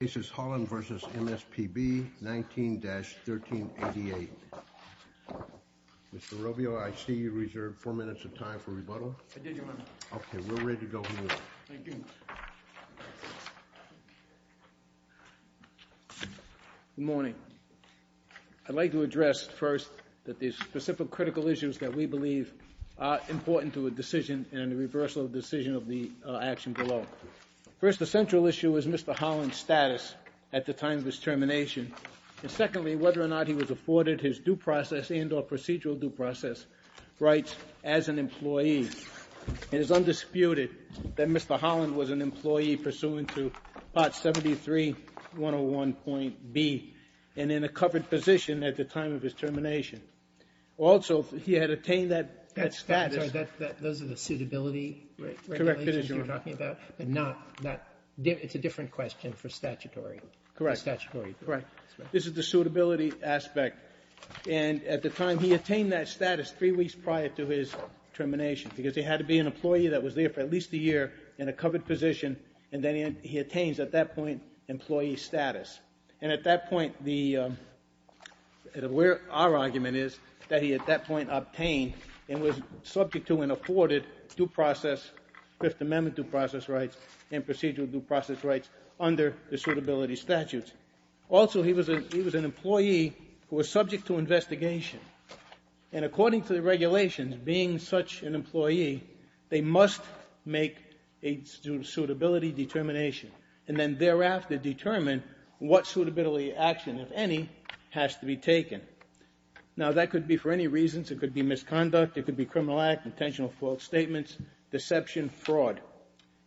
This is Holland v. MSPB, 19-1388. Mr. Robio, I see you reserved four minutes of time for rebuttal. I did, Your Honor. Okay, we're ready to go. Thank you. Good morning. I'd like to address first that the specific critical issues that we believe are important to a decision and the reversal of the decision of the action below. First, the central issue is Mr. Holland's due process at the time of his termination. And secondly, whether or not he was afforded his due process and or procedural due process rights as an employee. It is undisputed that Mr. Holland was an employee pursuant to Part 73.101.B and in a covered position at the time of his termination. Also, he had attained that status. That's right. Those are the suitability regulations you're talking about, but not it's a different question for statutory. Correct. This is the suitability aspect. And at the time he attained that status three weeks prior to his termination because he had to be an employee that was there for at least a year in a covered position and then he attains at that point employee status. And at that point, our argument is that he at that point obtained and was subject to and afforded due process, Fifth Amendment due process rights and procedural due process rights under the suitability statutes. Also, he was an employee who was subject to investigation and according to the regulations, being such an employee, they must make a suitability determination and then thereafter determine what suitability action, if any, has to be criminal act, intentional fault statements, deception, fraud.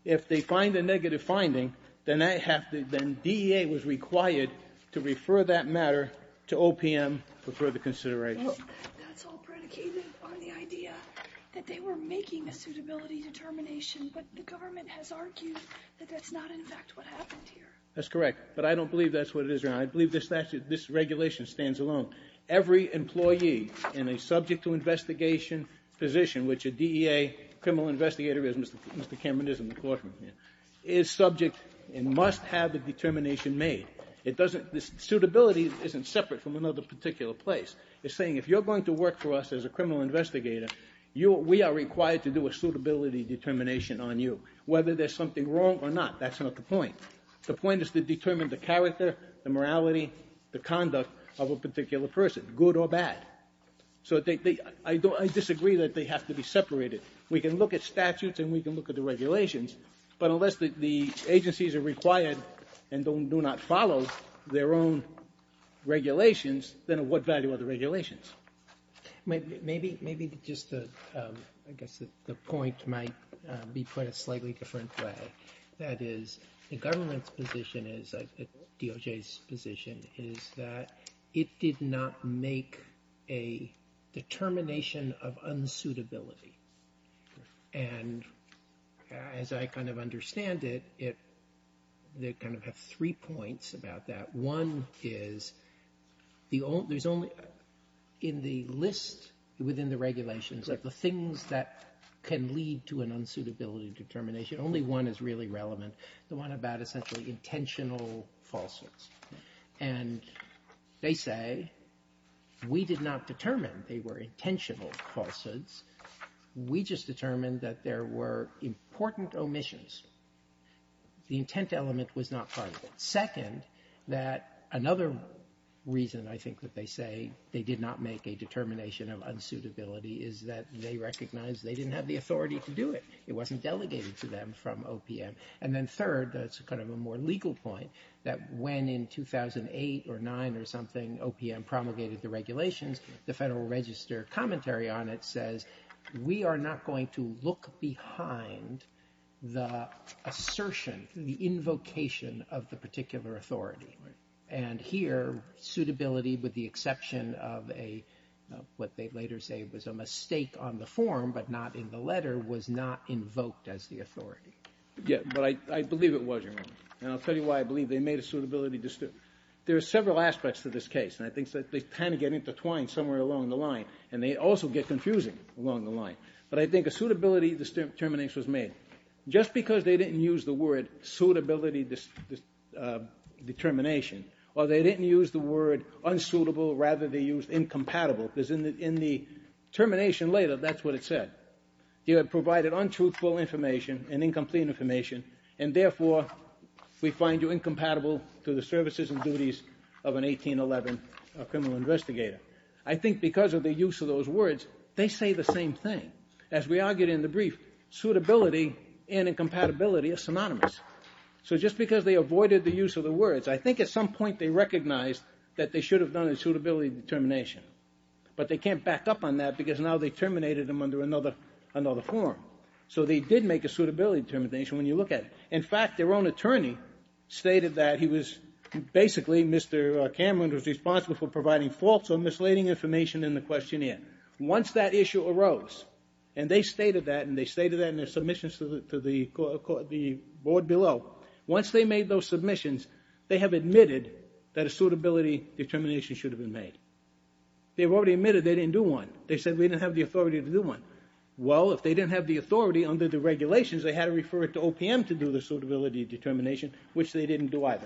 If they find a negative finding, then DEA was required to refer that matter to OPM for further consideration. That's all predicated on the idea that they were making a suitability determination, but the government has argued that that's not in fact what happened here. That's correct, but I don't believe that's what it is. I believe this regulation stands alone. Every employee in a subject to investigation position, which a DEA criminal investigator is, Mr. Cameron is in the courtroom here, is subject and must have a determination made. It doesn't, this suitability isn't separate from another particular place. It's saying if you're going to work for us as a criminal investigator, we are required to do a suitability determination on you. Whether there's something wrong or not, that's not the point. The point is to determine the character, the morality, the conduct of a particular person, good or bad. So I disagree that they have to be separated. We can look at statutes and we can look at the regulations, but unless the agencies are required and do not follow their own regulations, then what value are the regulations? Maybe just to, I guess the point might be put a slightly different way. That is, the government's position is, DOJ's position is that it did not make a determination of unsuitability. And as I kind of understand it, they kind of have three points about that. One is, there's only, in the list within the regulations, like the things that can lead to unsuitability determination, only one is really relevant. The one about essentially intentional falsehoods. And they say, we did not determine they were intentional falsehoods. We just determined that there were important omissions. The intent element was not part of it. Second, that another reason I think that they say they did not make a determination of unsuitability is that they recognize they didn't have the authority to do it. It wasn't delegated to them from OPM. And then third, that's kind of a more legal point, that when in 2008 or nine or something, OPM promulgated the regulations, the Federal Register commentary on it says, we are not going to look behind the assertion, the invocation of the particular authority. And here, suitability with the exception of what they later say was a mistake on the form, but not in the letter, was not invoked as the authority. Yeah, but I believe it was, Your Honor. And I'll tell you why I believe they made a suitability. There are several aspects to this case, and I think they kind of get intertwined somewhere along the line. And they also get confusing along the line. But I think a suitability determination was made just because they didn't use the word suitability determination, or they didn't use the word unsuitable, rather they used incompatible, because in the termination later, that's what it said. You have provided untruthful information and incomplete information, and therefore, we find you incompatible to the services and duties of an 1811 criminal investigator. I think because of the use of those words, they say the same thing. As we argued in the brief, suitability and incompatibility are synonymous. So just because they avoided the use of the words, I think at some point they recognized that they should have done a suitability determination. But they can't back up on that because now they terminated them under another form. So they did make a suitability determination when you look at it. In fact, their own attorney stated that he was basically, Mr. Cameron was responsible for providing false or misleading information in the questionnaire. Once that issue arose, and they stated that, and they stated that in their submissions to the board below, once they made those submissions, they have admitted that a suitability determination should have been made. They've already admitted they didn't do one. They said we didn't have the authority to do one. Well, if they didn't have the authority under the regulations, they had to refer it to OPM to do the suitability determination, which they didn't do either.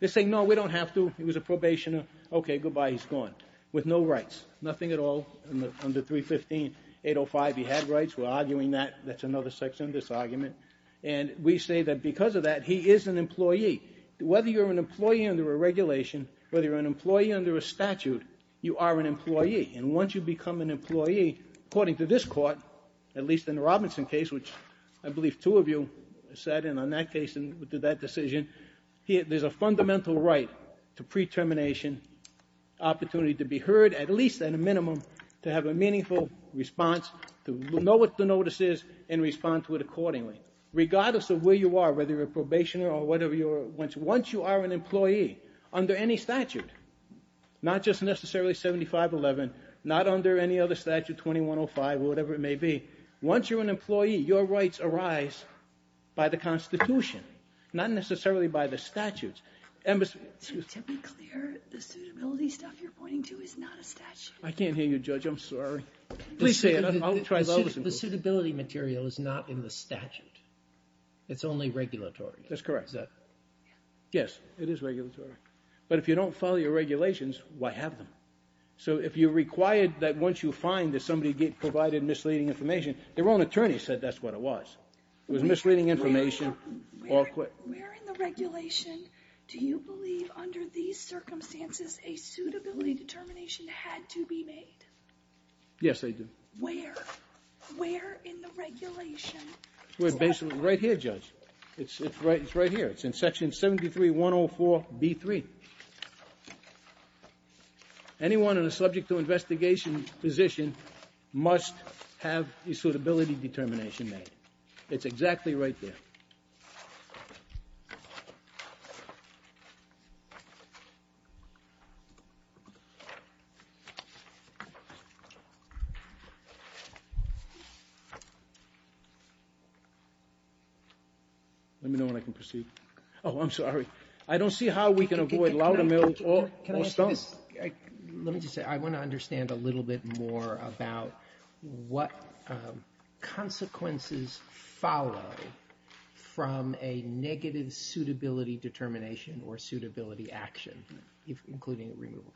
They're saying, no, we don't have to. He was a probationer. Okay, goodbye, he's gone, with no rights, nothing at all. Under 315805, he had rights. We're arguing that. That's another section of this argument. And we say that because of that, he is an employee. Whether you're an employee under a regulation, whether you're an employee under a statute, you are an employee. And once you become an employee, according to this court, at least in the Robinson case, which I believe two of you said, and on that case and to that decision, there's a fundamental right to pre-termination opportunity to be heard, at least at a minimum, to have a meaningful response, to know what the notice is, and respond to it accordingly. Regardless of where you are, whether you're a probationer or whatever, once you are an employee under any statute, not just necessarily 7511, not under any other statute, 2105, or whatever it may be, once you're an employee, your rights arise by the Constitution, not necessarily by the statutes. To be clear, the suitability stuff you're pointing to is not a statute. I can't hear you, Judge. I'm sorry. Please say it. I'll try to listen. The suitability material is not in the statute. It's only regulatory. That's correct. Yes, it is regulatory. But if you don't follow your regulations, why have them? So if you're required that once you find that somebody provided misleading information, their own attorney said that's what it was. It was misleading information. Where in the regulation do you believe under these circumstances a suitability determination had to be made? Yes, I do. Where? Where in the regulation? Right here, Judge. It's right here. It's in Section 73-104-B3. Anyone in a subject to investigation position must have a suitability determination made. It's exactly right there. Okay. Let me know when I can proceed. Oh, I'm sorry. I don't see how we can avoid loud and mild or stumped. Let me just say, I want to understand a little bit more about what consequences follow from a negative suitability determination or suitability action, including removal.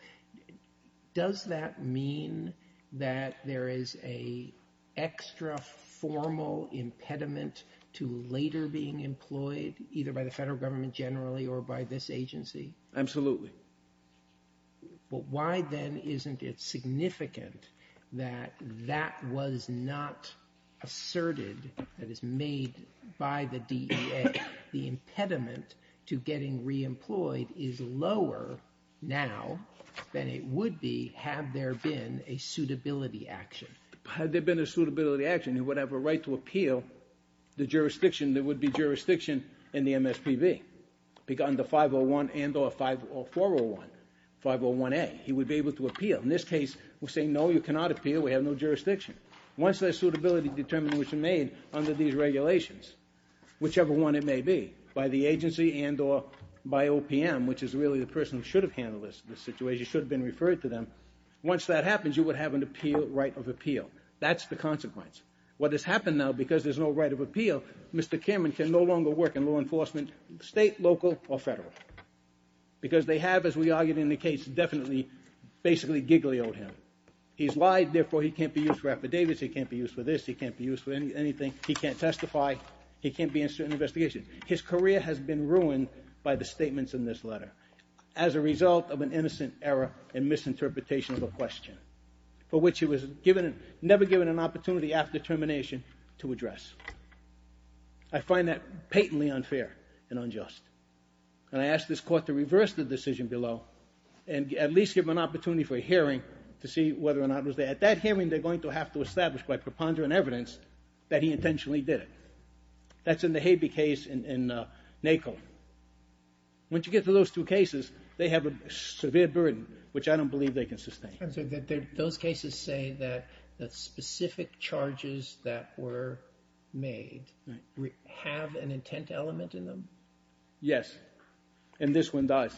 Does that mean that there is an extra formal impediment to later being employed, either by the federal government generally or by this agency? Absolutely. But why then isn't it significant that that was not asserted, that is made by the DEA, the impediment to getting re-employed is lower now than it would be had there been a suitability action. Had there been a suitability action, you would have a right to appeal the jurisdiction, there would be jurisdiction in the MSPB. Under 501 and or 501, 501A, he would be able to appeal. In this case, we'll say, no, you cannot appeal. We have no jurisdiction. Once that suitability determination was made under these regulations, whichever one it may be, by the agency and or by OPM, which is really the person who should have handled this situation, should have been referred to them. Once that happens, you would have an appeal, right of appeal. That's the consequence. What has happened now, because there's no right of appeal, Mr. Cameron can no longer work in law enforcement, state, local, or federal. Because they have, as we argued in the case, definitely, basically giggly-oed him. He's lied, therefore he can't be used for affidavits, he can't be used for this, he can't be used for anything, he can't testify, he can't be in certain investigations. His career has been ruined by the statements in this letter as a result of an innocent error and misinterpretation of a question for which he was never given an opportunity after termination to address. I find that patently unfair and unjust. And I ask this Court to reverse the decision below and at least give him an opportunity for a hearing to see whether or not it was there. At that hearing, they're going to have to establish by preponderant evidence that he intentionally did it. That's in the Habee case in NACO. Once you get to those two cases, they have a severe burden, which I don't believe they can sustain. Those cases say that the specific charges that were made have an intent element in them? Yes. And this one does.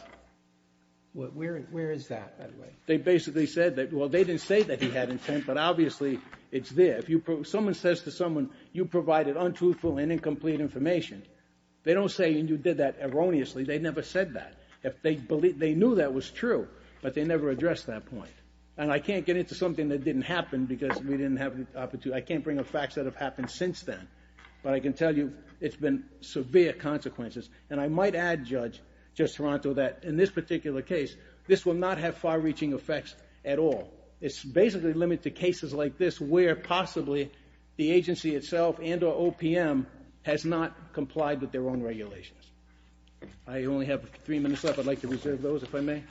Where is that, by the way? They basically said that, well, they didn't say that he had intent, but obviously it's there. If someone says to someone, you provided untruthful and incomplete information, they don't say, you did that erroneously. They never said that. They knew that was true, but they never addressed that point. And I can't get into something that didn't happen because we didn't have the opportunity. I can't bring up facts that have happened since then. But I can tell you, it's been severe consequences. And I might add, Judge Toronto, that in this particular case, this will not have far-reaching effects at all. It's basically limited to cases like this where possibly the agency itself and or OPM has not complied with their own regulations. I only have three minutes left. I'd like to reserve those, if I may.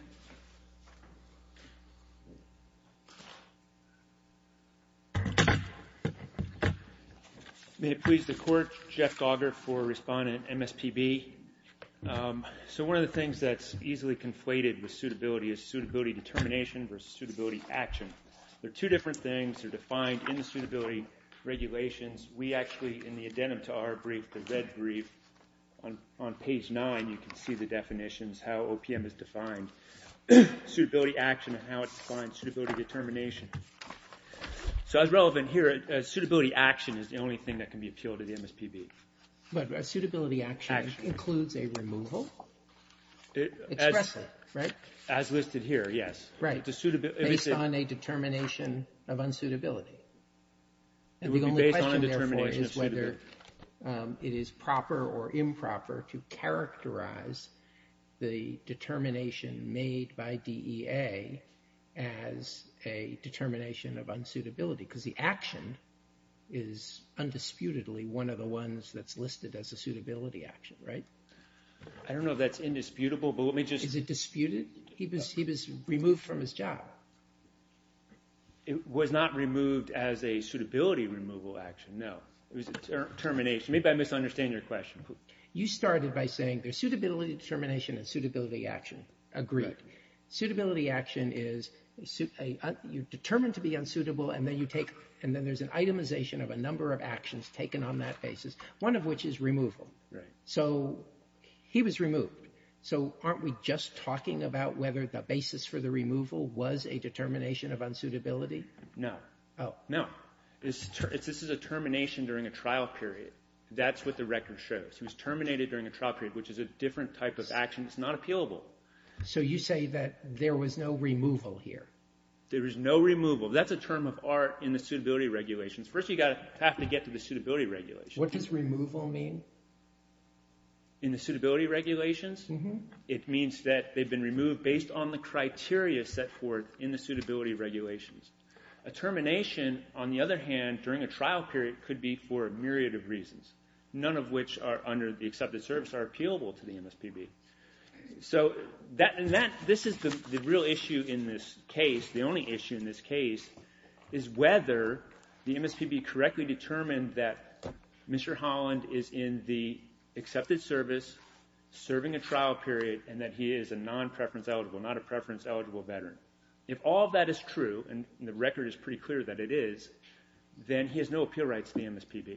May it please the Court. Jeff Gauger for Respondent MSPB. So one of the things that's easily conflated with suitability is suitability determination versus suitability action. They're two different things. They're defined in the suitability regulations. We actually, in the addendum to our brief, the red brief, on page 9, you can see the definitions, how OPM is defined. Suitability action and how it's defined suitability determination. So as relevant here, suitability action is the only thing that can be appealed to the MSPB. But a suitability action includes a removal, expressly, right? As listed here, yes. Right. Based on a determination of unsuitability. And the only question, therefore, is whether it is proper or improper to characterize the determination made by DEA as a determination of unsuitability. Because the action is undisputedly one of the ones that's listed as a suitability action, right? I don't know if that's indisputable, but let me just... Is it disputed? He was removed from his job. He was not removed as a suitability removal action, no. It was a termination. Maybe I misunderstand your question. You started by saying there's suitability determination and suitability action. Agreed. Suitability action is you're determined to be unsuitable and then there's an itemization of a number of actions taken on that basis, one of which is removal. So he was removed. So aren't we just talking about whether the basis for the removal was a determination of unsuitability? No. Oh. No. This is a termination during a trial period. That's what the record shows. He was terminated during a trial period, which is a different type of action. It's not appealable. So you say that there was no removal here. There was no removal. That's a term of art in the suitability regulations. First, you have to get to the suitability regulations. What does removal mean? Removal in the suitability regulations, it means that they've been removed based on the criteria set forth in the suitability regulations. A termination, on the other hand, during a trial period could be for a myriad of reasons, none of which are under the accepted service are appealable to the MSPB. So this is the real issue in this case. The only issue in this case is whether the MSPB correctly determined that Mr. Holland is in the accepted service, serving a trial period, and that he is a non-preference-eligible, not a preference-eligible veteran. If all that is true, and the record is pretty clear that it is, then he has no appeal rights to the MSPB.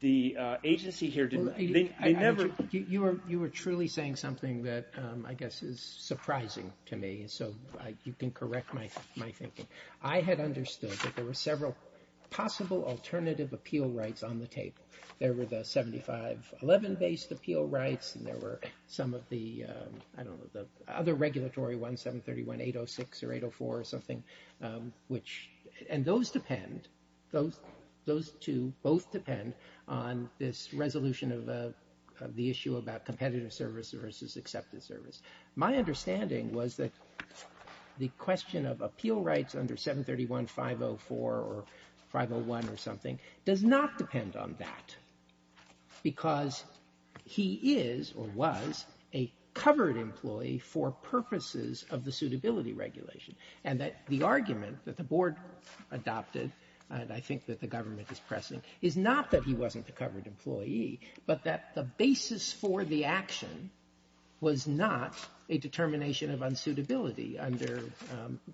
The agency here didn't... They never... You were truly saying something that I guess is surprising to me, so you can correct my thinking. I had understood that there were several possible alternative appeal rights on the table. There were the 7511-based appeal rights, and there were some of the, I don't know, the other regulatory ones, 731-806 or 804 or something, which... And those depend, those two both depend on this resolution of the issue about competitive service versus accepted service. My understanding was that the question of appeal rights under 731-504 or 501 or something does not depend on that, because he is or was a covered employee for purposes of the suitability regulation, and that the argument that the board adopted, and I think that the government is pressing, is not that he wasn't a covered employee, but that the basis for the action was not a determination of unsuitability under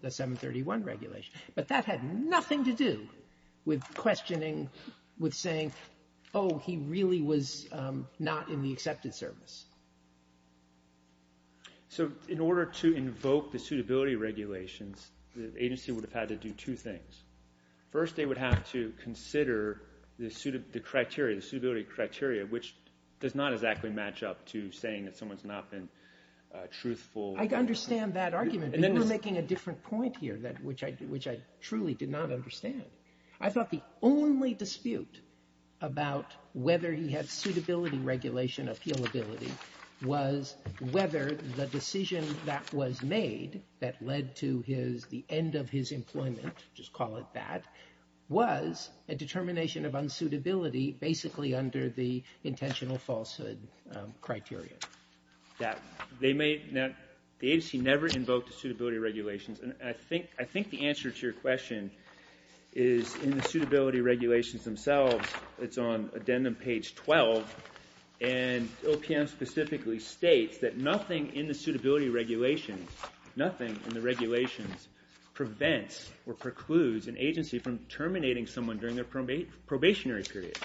the 731 regulation. But that had nothing to do with questioning, with saying, oh, he really was not in the accepted service. So in order to invoke the suitability regulations, the agency would have had to do two things. First, they would have to consider the criteria, the suitability criteria, which does not exactly match up to saying that someone's not been truthful. I understand that argument, but you're making a different point here, which I truly did not understand. I thought the only dispute about whether he had suitability regulation appealability was whether the decision that was made that led to his, the end of his employment, just call it that, was a determination of unsuitability, basically under the intentional falsehood criteria. That they may not, the agency never invoked the suitability regulations, and I think, I think the answer to your question is in the suitability regulations themselves. It's on addendum page 12, and OPM specifically states that nothing in the suitability regulations, nothing in the regulations prevents or precludes an agency from terminating someone during their probationary period.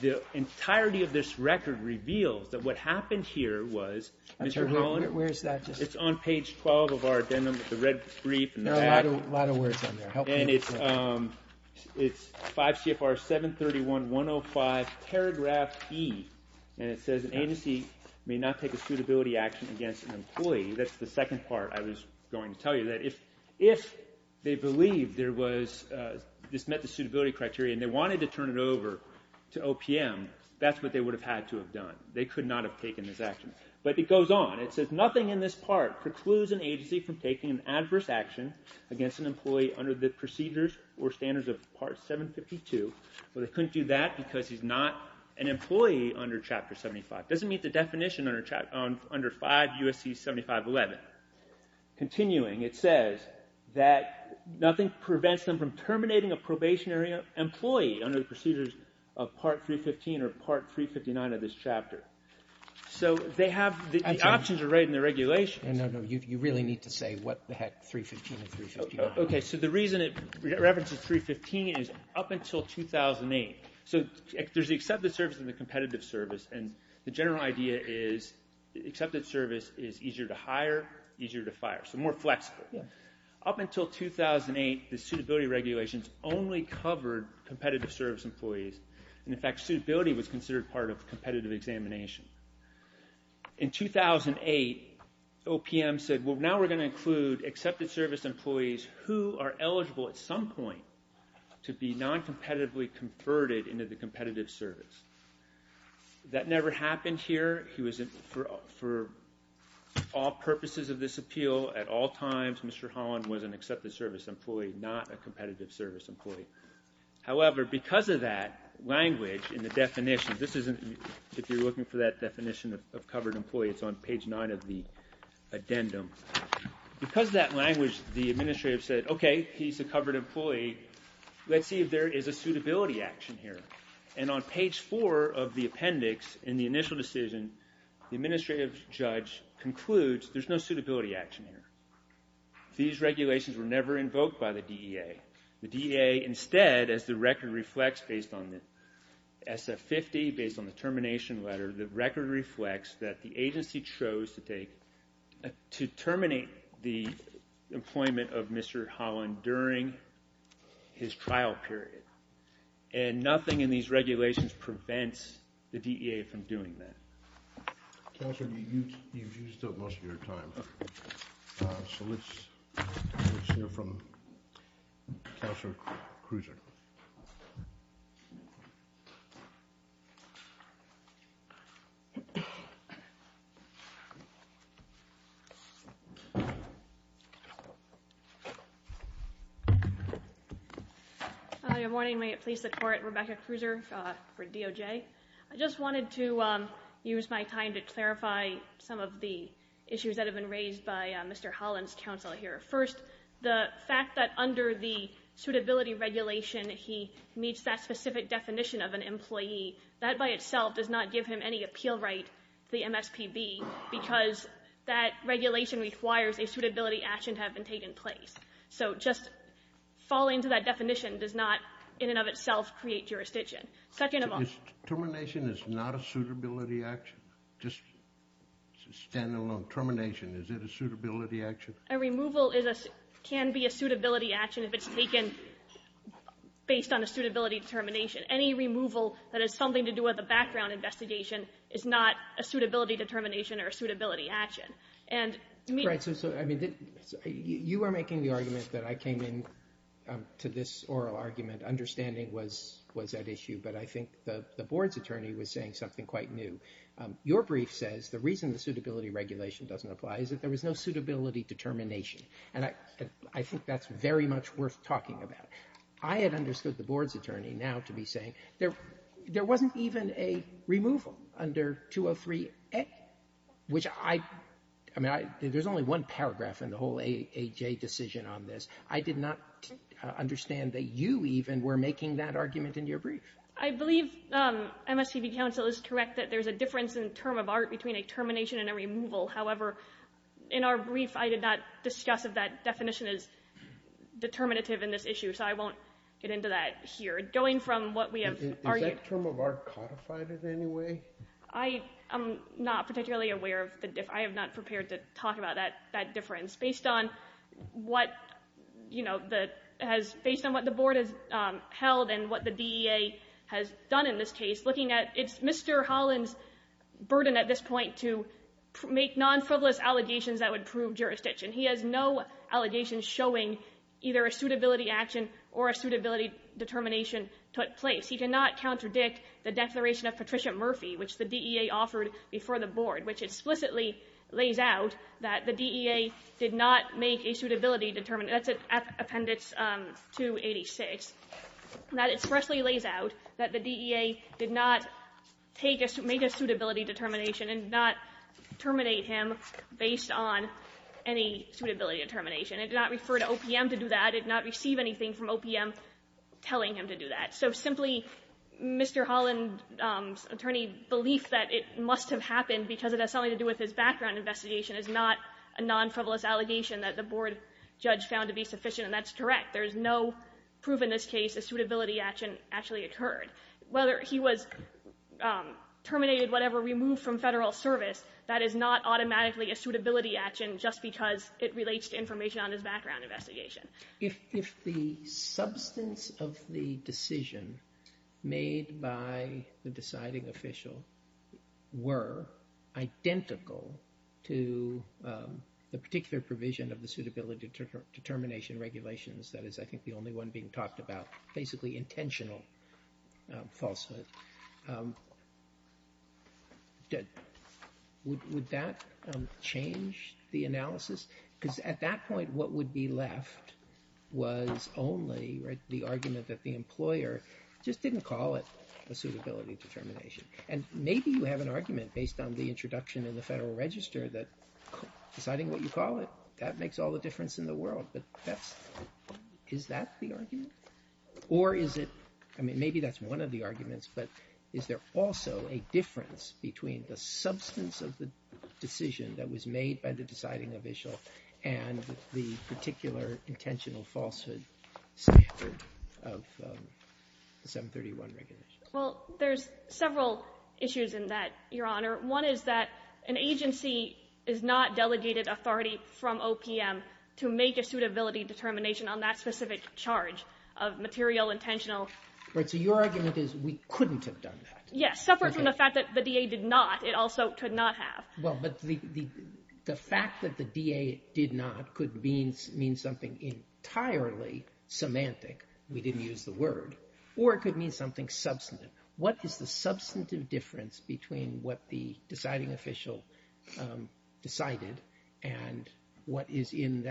The entirety of this record reveals that what happened here was, Mr. Holland? Where's that? It's on page 12 of our addendum, the red brief. There are a lot of words on there. And it's 5 CFR 731-105 paragraph E, and it says an agency may not take a suitability action against an employee. That's the second part I was going to tell you, that if they believed there was, this met the suitability criteria and they wanted to turn it over to OPM, that's what they would have had to have done. They could not have taken this action. But it goes on. It says nothing in this part precludes an agency from taking an adverse action against an employee under the procedures or standards of Part 752, but it couldn't do that because he's not an employee under Chapter 75. It doesn't meet the definition under 5 U.S.C. 7511. Continuing, it says that nothing prevents them from terminating a probationary employee under the procedures of Part 315 or Part 359 of this chapter. So they have, the options are right in the regulations. No, no, you really need to say what the heck 315 and 359 are. Okay, so the reason it references 315 is up until 2008, so there's the accepted service and the competitive service, and the general idea is accepted service is easier to hire, easier to fire, so more flexible. Up until 2008, the suitability regulations only covered competitive service employees. And in fact, suitability was considered part of competitive examination. In 2008, OPM said, well, now we're going to include accepted service employees who are eligible at some point to be non-competitively converted into the competitive service. That never happened here. He was, for all purposes of this appeal, at all times, Mr. Holland was an accepted service employee, not a competitive service employee. However, because of that language and the definition, this isn't, if you're looking for that definition of covered employee, it's on page 9 of the addendum. Because of that language, the administrative said, okay, he's a covered employee, let's see if there is a suitability action here. And on page 4 of the appendix in the initial decision, the administrative judge concludes there's no suitability action here. These regulations were never invoked by the DEA. The DEA instead, as the record reflects based on the SF-50, based on the termination letter, the record reflects that the agency chose to take, to terminate the employment of Mr. Holland during his trial period. And nothing in these regulations prevents the DEA from doing that. Counselor, you've used up most of your time. So let's hear from Counselor Krueser. Good morning. May it please the Court. Rebecca Krueser for DOJ. I just wanted to use my time to clarify some of the issues that have been raised by Mr. Holland's counsel here. First, the fact that under the suitability regulation he meets that specific definition of an employee, that by itself does not give him any appeal right to the MSPB because that regulation requires a suitability action to have been taken place. So just falling to that definition does not in and of itself create jurisdiction. Second of all... So termination is not a suitability action? Just stand alone. Termination, is it a suitability action? A removal can be a suitability action if it's taken based on a suitability determination. Any removal that has something to do with a background investigation is not a suitability determination or a suitability action. Right. So you are making the argument that I came in to this oral argument understanding was that issue, but I think the Board's attorney was saying something quite new. Your brief says the reason the suitability regulation doesn't apply is that there was no suitability determination. And I think that's very much worth talking about. I had understood the Board's attorney now to be saying there wasn't even a removal under 203A, which I mean, there's only one paragraph in the whole AHA decision on this. I did not understand that you even were making that argument in your brief. I believe MSPB counsel is correct that there's a difference in term of art between a termination and a removal. However, in our brief, I did not discuss if that definition is determinative in this issue. So I won't get into that here. Going from what we have argued... Is that term of art codified in any way? I am not particularly aware of the... I am not prepared to talk about that difference. Based on what the Board has held and what the DEA has done in this case, looking at it's Mr. Holland's burden at this point to make non-frivolous allegations that would prove jurisdiction. He has no allegations showing either a suitability action or a suitability determination took place. He did not contradict the declaration of Patricia Murphy, which the DEA offered before the Board, which explicitly lays out that the DEA did not make a suitability determination. That's Appendix 286. That expressly lays out that the DEA did not make a suitability determination and did not terminate him based on any suitability determination. It did not refer to OPM to do that. It did not receive anything from OPM telling him to do that. So simply, Mr. Holland's attorney's belief that it must have happened because it has something to do with his background investigation is not a non-frivolous allegation that the Board judge found to be sufficient, and that's correct. There is no proof in this case a suitability action actually occurred. Whether he was terminated, whatever, removed from Federal service, that is not automatically a suitability action just because it relates to information on his background investigation. If the substance of the decision made by the deciding official were identical to the particular provision of the suitability determination regulations, that is, I think, the only one being talked about, basically intentional falsehood, would that change the analysis? Because at that point, what would be left was only the argument that the employer just didn't call it a suitability determination. And maybe you have an argument based on the introduction in the Federal Register that deciding what you call it, that makes all the difference in the world. But is that the argument? Or is it, I mean, maybe that's one of the arguments, but is there also a difference between the substance of the decision that was made by the deciding official and the particular intentional falsehood standard of the 731 regulations? Well, there's several issues in that, Your Honor. One is that an agency is not delegated authority from OPM to make a suitability determination on that specific charge of material, intentional. Right. So your argument is we couldn't have done that. Yes. Separate from the fact that the DA did not, it also could not have. Well, but the fact that the DA did not could mean something entirely semantic. We didn't use the word. Or it could mean something substantive. What is the substantive difference between what the deciding official decided and what is in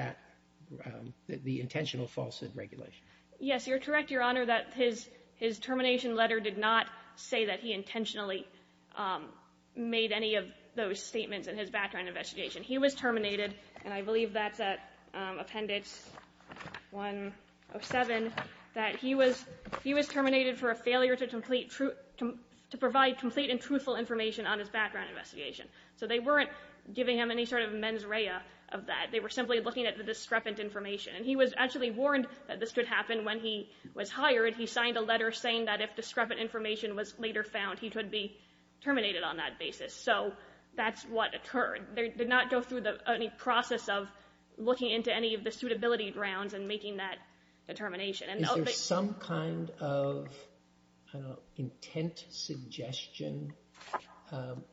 the intentional falsehood regulation? Yes, you're correct, Your Honor, that his termination letter did not say that he intentionally made any of those statements in his background investigation. He was terminated, and I believe that's at Appendix 107, that he was terminated for a failure to provide complete and truthful information on his background investigation. So they weren't giving him any sort of mens rea of that. They were simply looking at the discrepant information. And he was actually warned that this could happen when he was hired. He signed a letter saying that if discrepant information was later found, he could be terminated on that basis. So that's what occurred. They did not go through any process of looking into any of the suitability grounds and making that determination. Is there some kind of intent suggestion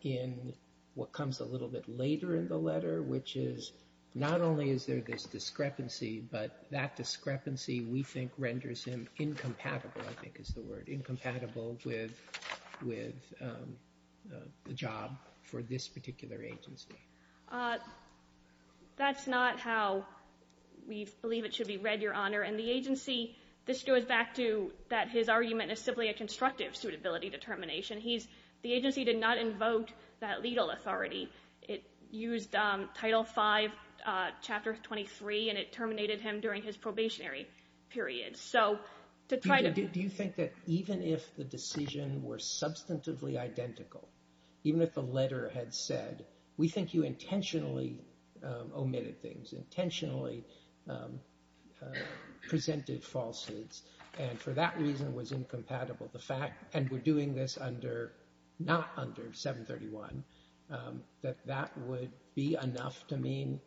in what comes a little bit later in the letter, which is not only is there this discrepancy, but that discrepancy we think renders him incompatible, I think is the word, incompatible with the job for this particular agency? That's not how we believe it should be read, Your Honor. And the agency, this goes back to that his argument is simply a constructive suitability determination. The agency did not invoke that legal authority. It used Title V, Chapter 23, and it terminated him during his probationary period. So to try to... Do you think that even if the decision were substantively identical, even if the letter had said, we think you intentionally omitted things, intentionally presented falsehoods, and for that reason was incompatible, and we're doing this not under 731, that that would be enough to mean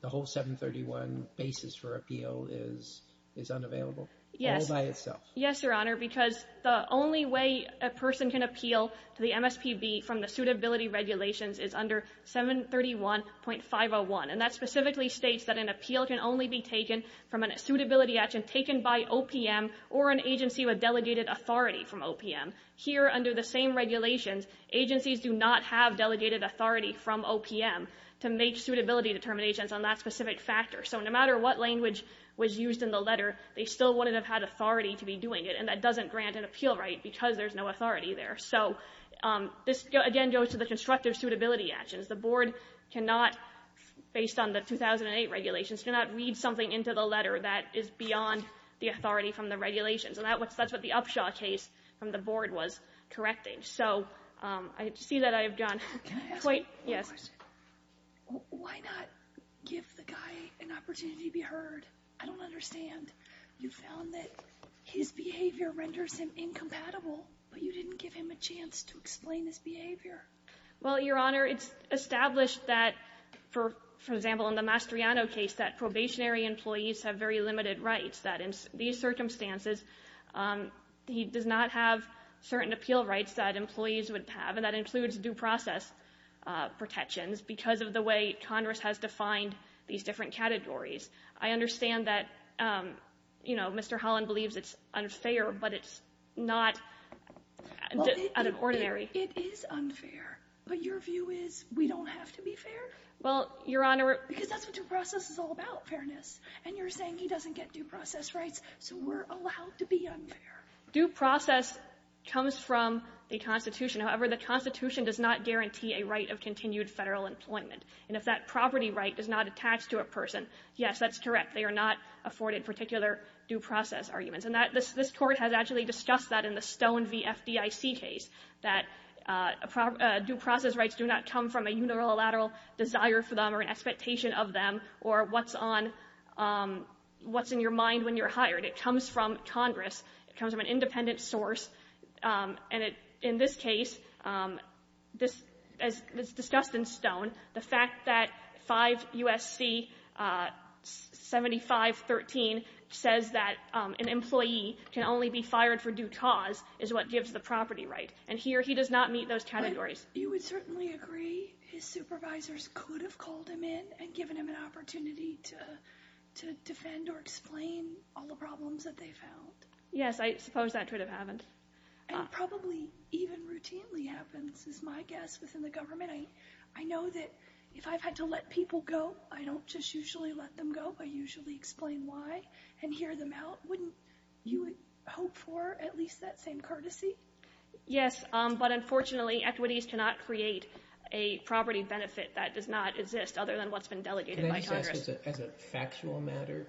the whole 731 basis for appeal is unavailable all by itself? Yes, Your Honor, because the only way a person can appeal to the MSPB from the suitability regulations is under 731.501. And that specifically states that an appeal can only be taken from a suitability action taken by OPM or an agency with delegated authority from OPM. Here, under the same regulations, agencies do not have delegated authority from OPM to make suitability determinations on that specific factor. So no matter what language was used in the letter, they still wouldn't have had authority to be doing it, and that doesn't grant an appeal right because there's no authority there. So this, again, goes to the constructive suitability actions. The board cannot, based on the 2008 regulations, cannot read something into the letter that is beyond the authority from the regulations. And that's what the Upshaw case from the board was correcting. So I see that I've gone quite... Can I ask you one question? Yes. Why not give the guy an opportunity to be heard? I don't understand. You found that his behavior renders him incompatible, but you didn't give him a chance to explain his behavior. Well, Your Honor, it's established that, for example, in the Mastriano case, that probationary employees have very limited rights, that in these circumstances, he does not have certain appeal rights that employees would have, and that includes due process protections because of the way Congress has defined these different categories. I understand that, you know, Mr. Holland believes it's unfair, but it's not out of ordinary. It is unfair, but your view is we don't have to be fair? Well, Your Honor... Because that's what due process is all about, fairness. And you're saying he doesn't get due process rights, so we're allowed to be unfair. Due process comes from the Constitution. However, the Constitution does not guarantee a right of continued federal employment. And if that property right does not attach to a person, yes, that's correct. They are not afforded particular due process arguments. And this Court has actually discussed that in the Stone v. FDIC case, that due process rights do not come from a unilateral desire for them or an expectation of them or what's on, what's in your mind when you're hired. It comes from Congress. It comes from an independent source. And in this case, as discussed in Stone, the fact that 5 U.S.C. 7513 says that an employee can only be fired for due cause is what gives the property right. And here, he does not meet those categories. You would certainly agree his supervisors could have called him in and given him an opportunity to defend or explain all the problems that they found? Yes, I suppose that could have happened. And it probably even routinely happens, is my guess, within the government. I know that if I've had to let people go, I don't just usually let them go. I usually explain why and hear them out. Wouldn't you hope for at least that same courtesy? Yes, but unfortunately, equities cannot create a property benefit that does not exist other than what's been delegated by Congress. As a factual matter,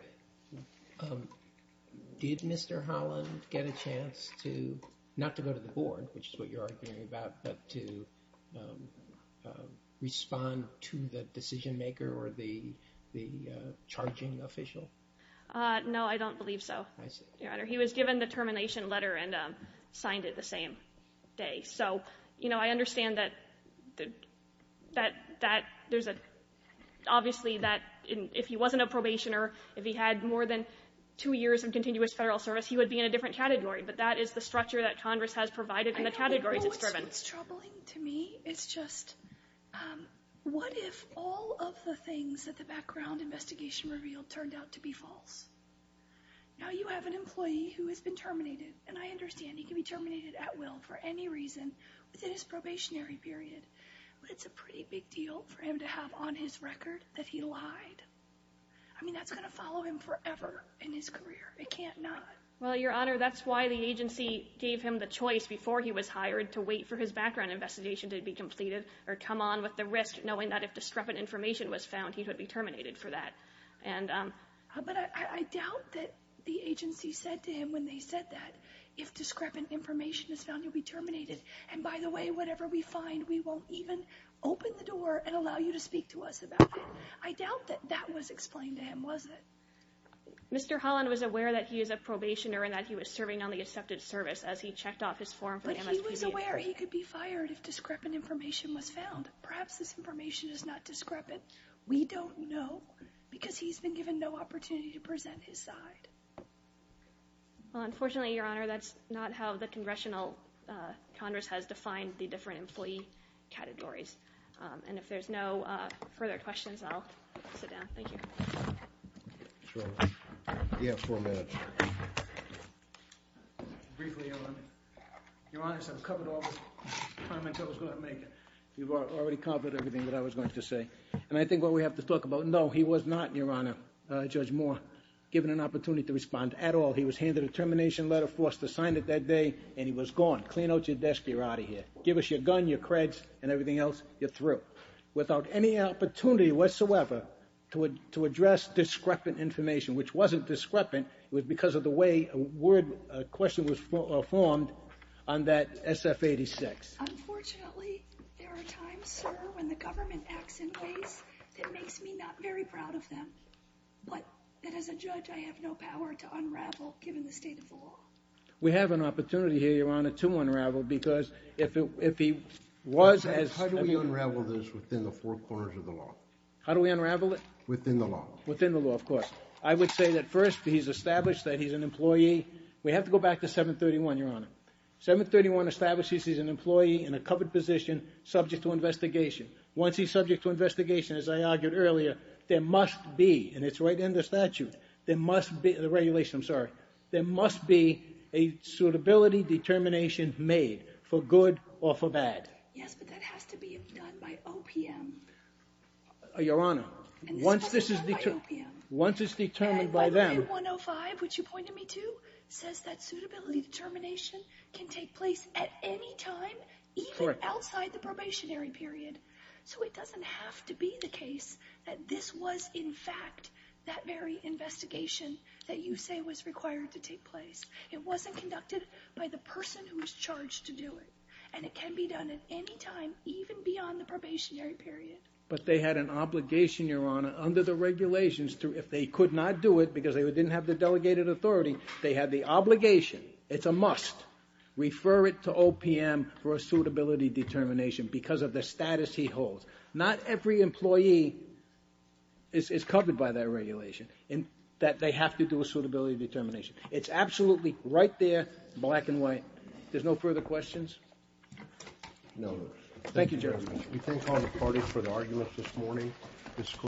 did Mr. Holland get a chance to, not to go to the board, which is what you're arguing about, but to respond to the decision maker or the charging official? No, I don't believe so, Your Honor. He was given the termination letter and signed it the same day. So, you know, I understand that there's a, obviously, that if he wasn't a probationer, if he had more than two years of continuous federal service, he would be in a different category. But that is the structure that Congress has provided and the categories it's driven. What's troubling to me is just, what if all of the things that the background investigation revealed turned out to be false? Now you have an employee who has been terminated, and I understand he can be terminated at will for any reason within his probationary period, but it's a pretty big deal for him to have on his record that he lied. I mean, that's going to follow him forever in his career. It can't not. Well, Your Honor, that's why the agency gave him the choice before he was hired to wait for his background investigation to be completed or come on with the risk, knowing that if discrepant information was found, he would be terminated for that. But I doubt that the agency said to him when they said that, if discrepant information is found, you'll be terminated. And by the way, whatever we find, we won't even open the door and allow you to speak to us about it. I doubt that that was explained to him, was it? Mr. Holland was aware that he is a probationer and that he was serving on the accepted service as he checked off his form for the MSPB. But he was aware he could be fired if discrepant information was found. Perhaps this information is not discrepant. We don't know, because he's been given no opportunity to present his side. Well, unfortunately, Your Honor, that's not how the Congressional Congress has defined the different employee categories. And if there's no further questions, I'll sit down. Thank you. Sure. You have four minutes. Briefly, Your Honor, I've covered all the comments I was going to make. You've already covered everything that I was going to say. And I think what we have to talk about, no, he was not, Your Honor, Judge Moore, given an opportunity to respond at all. He was handed a termination letter, forced to sign it that day, and he was gone. Clean out your desk. You're out of here. Give us your gun, your creds, and everything else. You're through. Without any opportunity whatsoever to address discrepant information, which wasn't discrepant. It was because of the way a question was formed on that SF-86. Unfortunately, there are times, sir, when the government acts in ways that makes me not very proud of them. But as a judge, I have no power to unravel, given the state of the law. We have an opportunity here, Your Honor, to unravel because if he was as- How do we unravel this within the four corners of the law? How do we unravel it? Within the law. Within the law, of course. I would say that first, he's established that he's an employee. We have to go back to 731, Your Honor. 731 establishes he's an employee in a covered position, subject to investigation. Once he's subject to investigation, as I argued earlier, there must be, and it's right in the statute, there must be- The regulation, I'm sorry. There must be a suitability determination made, for good or for bad. Yes, but that has to be done by OPM. Your Honor, once this is- And this has to be done by OPM. Once it's determined by them- Suitability determination can take place at any time, even outside the probationary period. So it doesn't have to be the case that this was, in fact, that very investigation that you say was required to take place. It wasn't conducted by the person who was charged to do it, and it can be done at any time, even beyond the probationary period. But they had an obligation, Your Honor, under the regulations, if they could not do it because they didn't have the delegated authority, they had the obligation, it's a must, refer it to OPM for a suitability determination because of the status he holds. Not every employee is covered by that regulation, and that they have to do a suitability determination. It's absolutely right there, black and white. No. Thank you, Judge.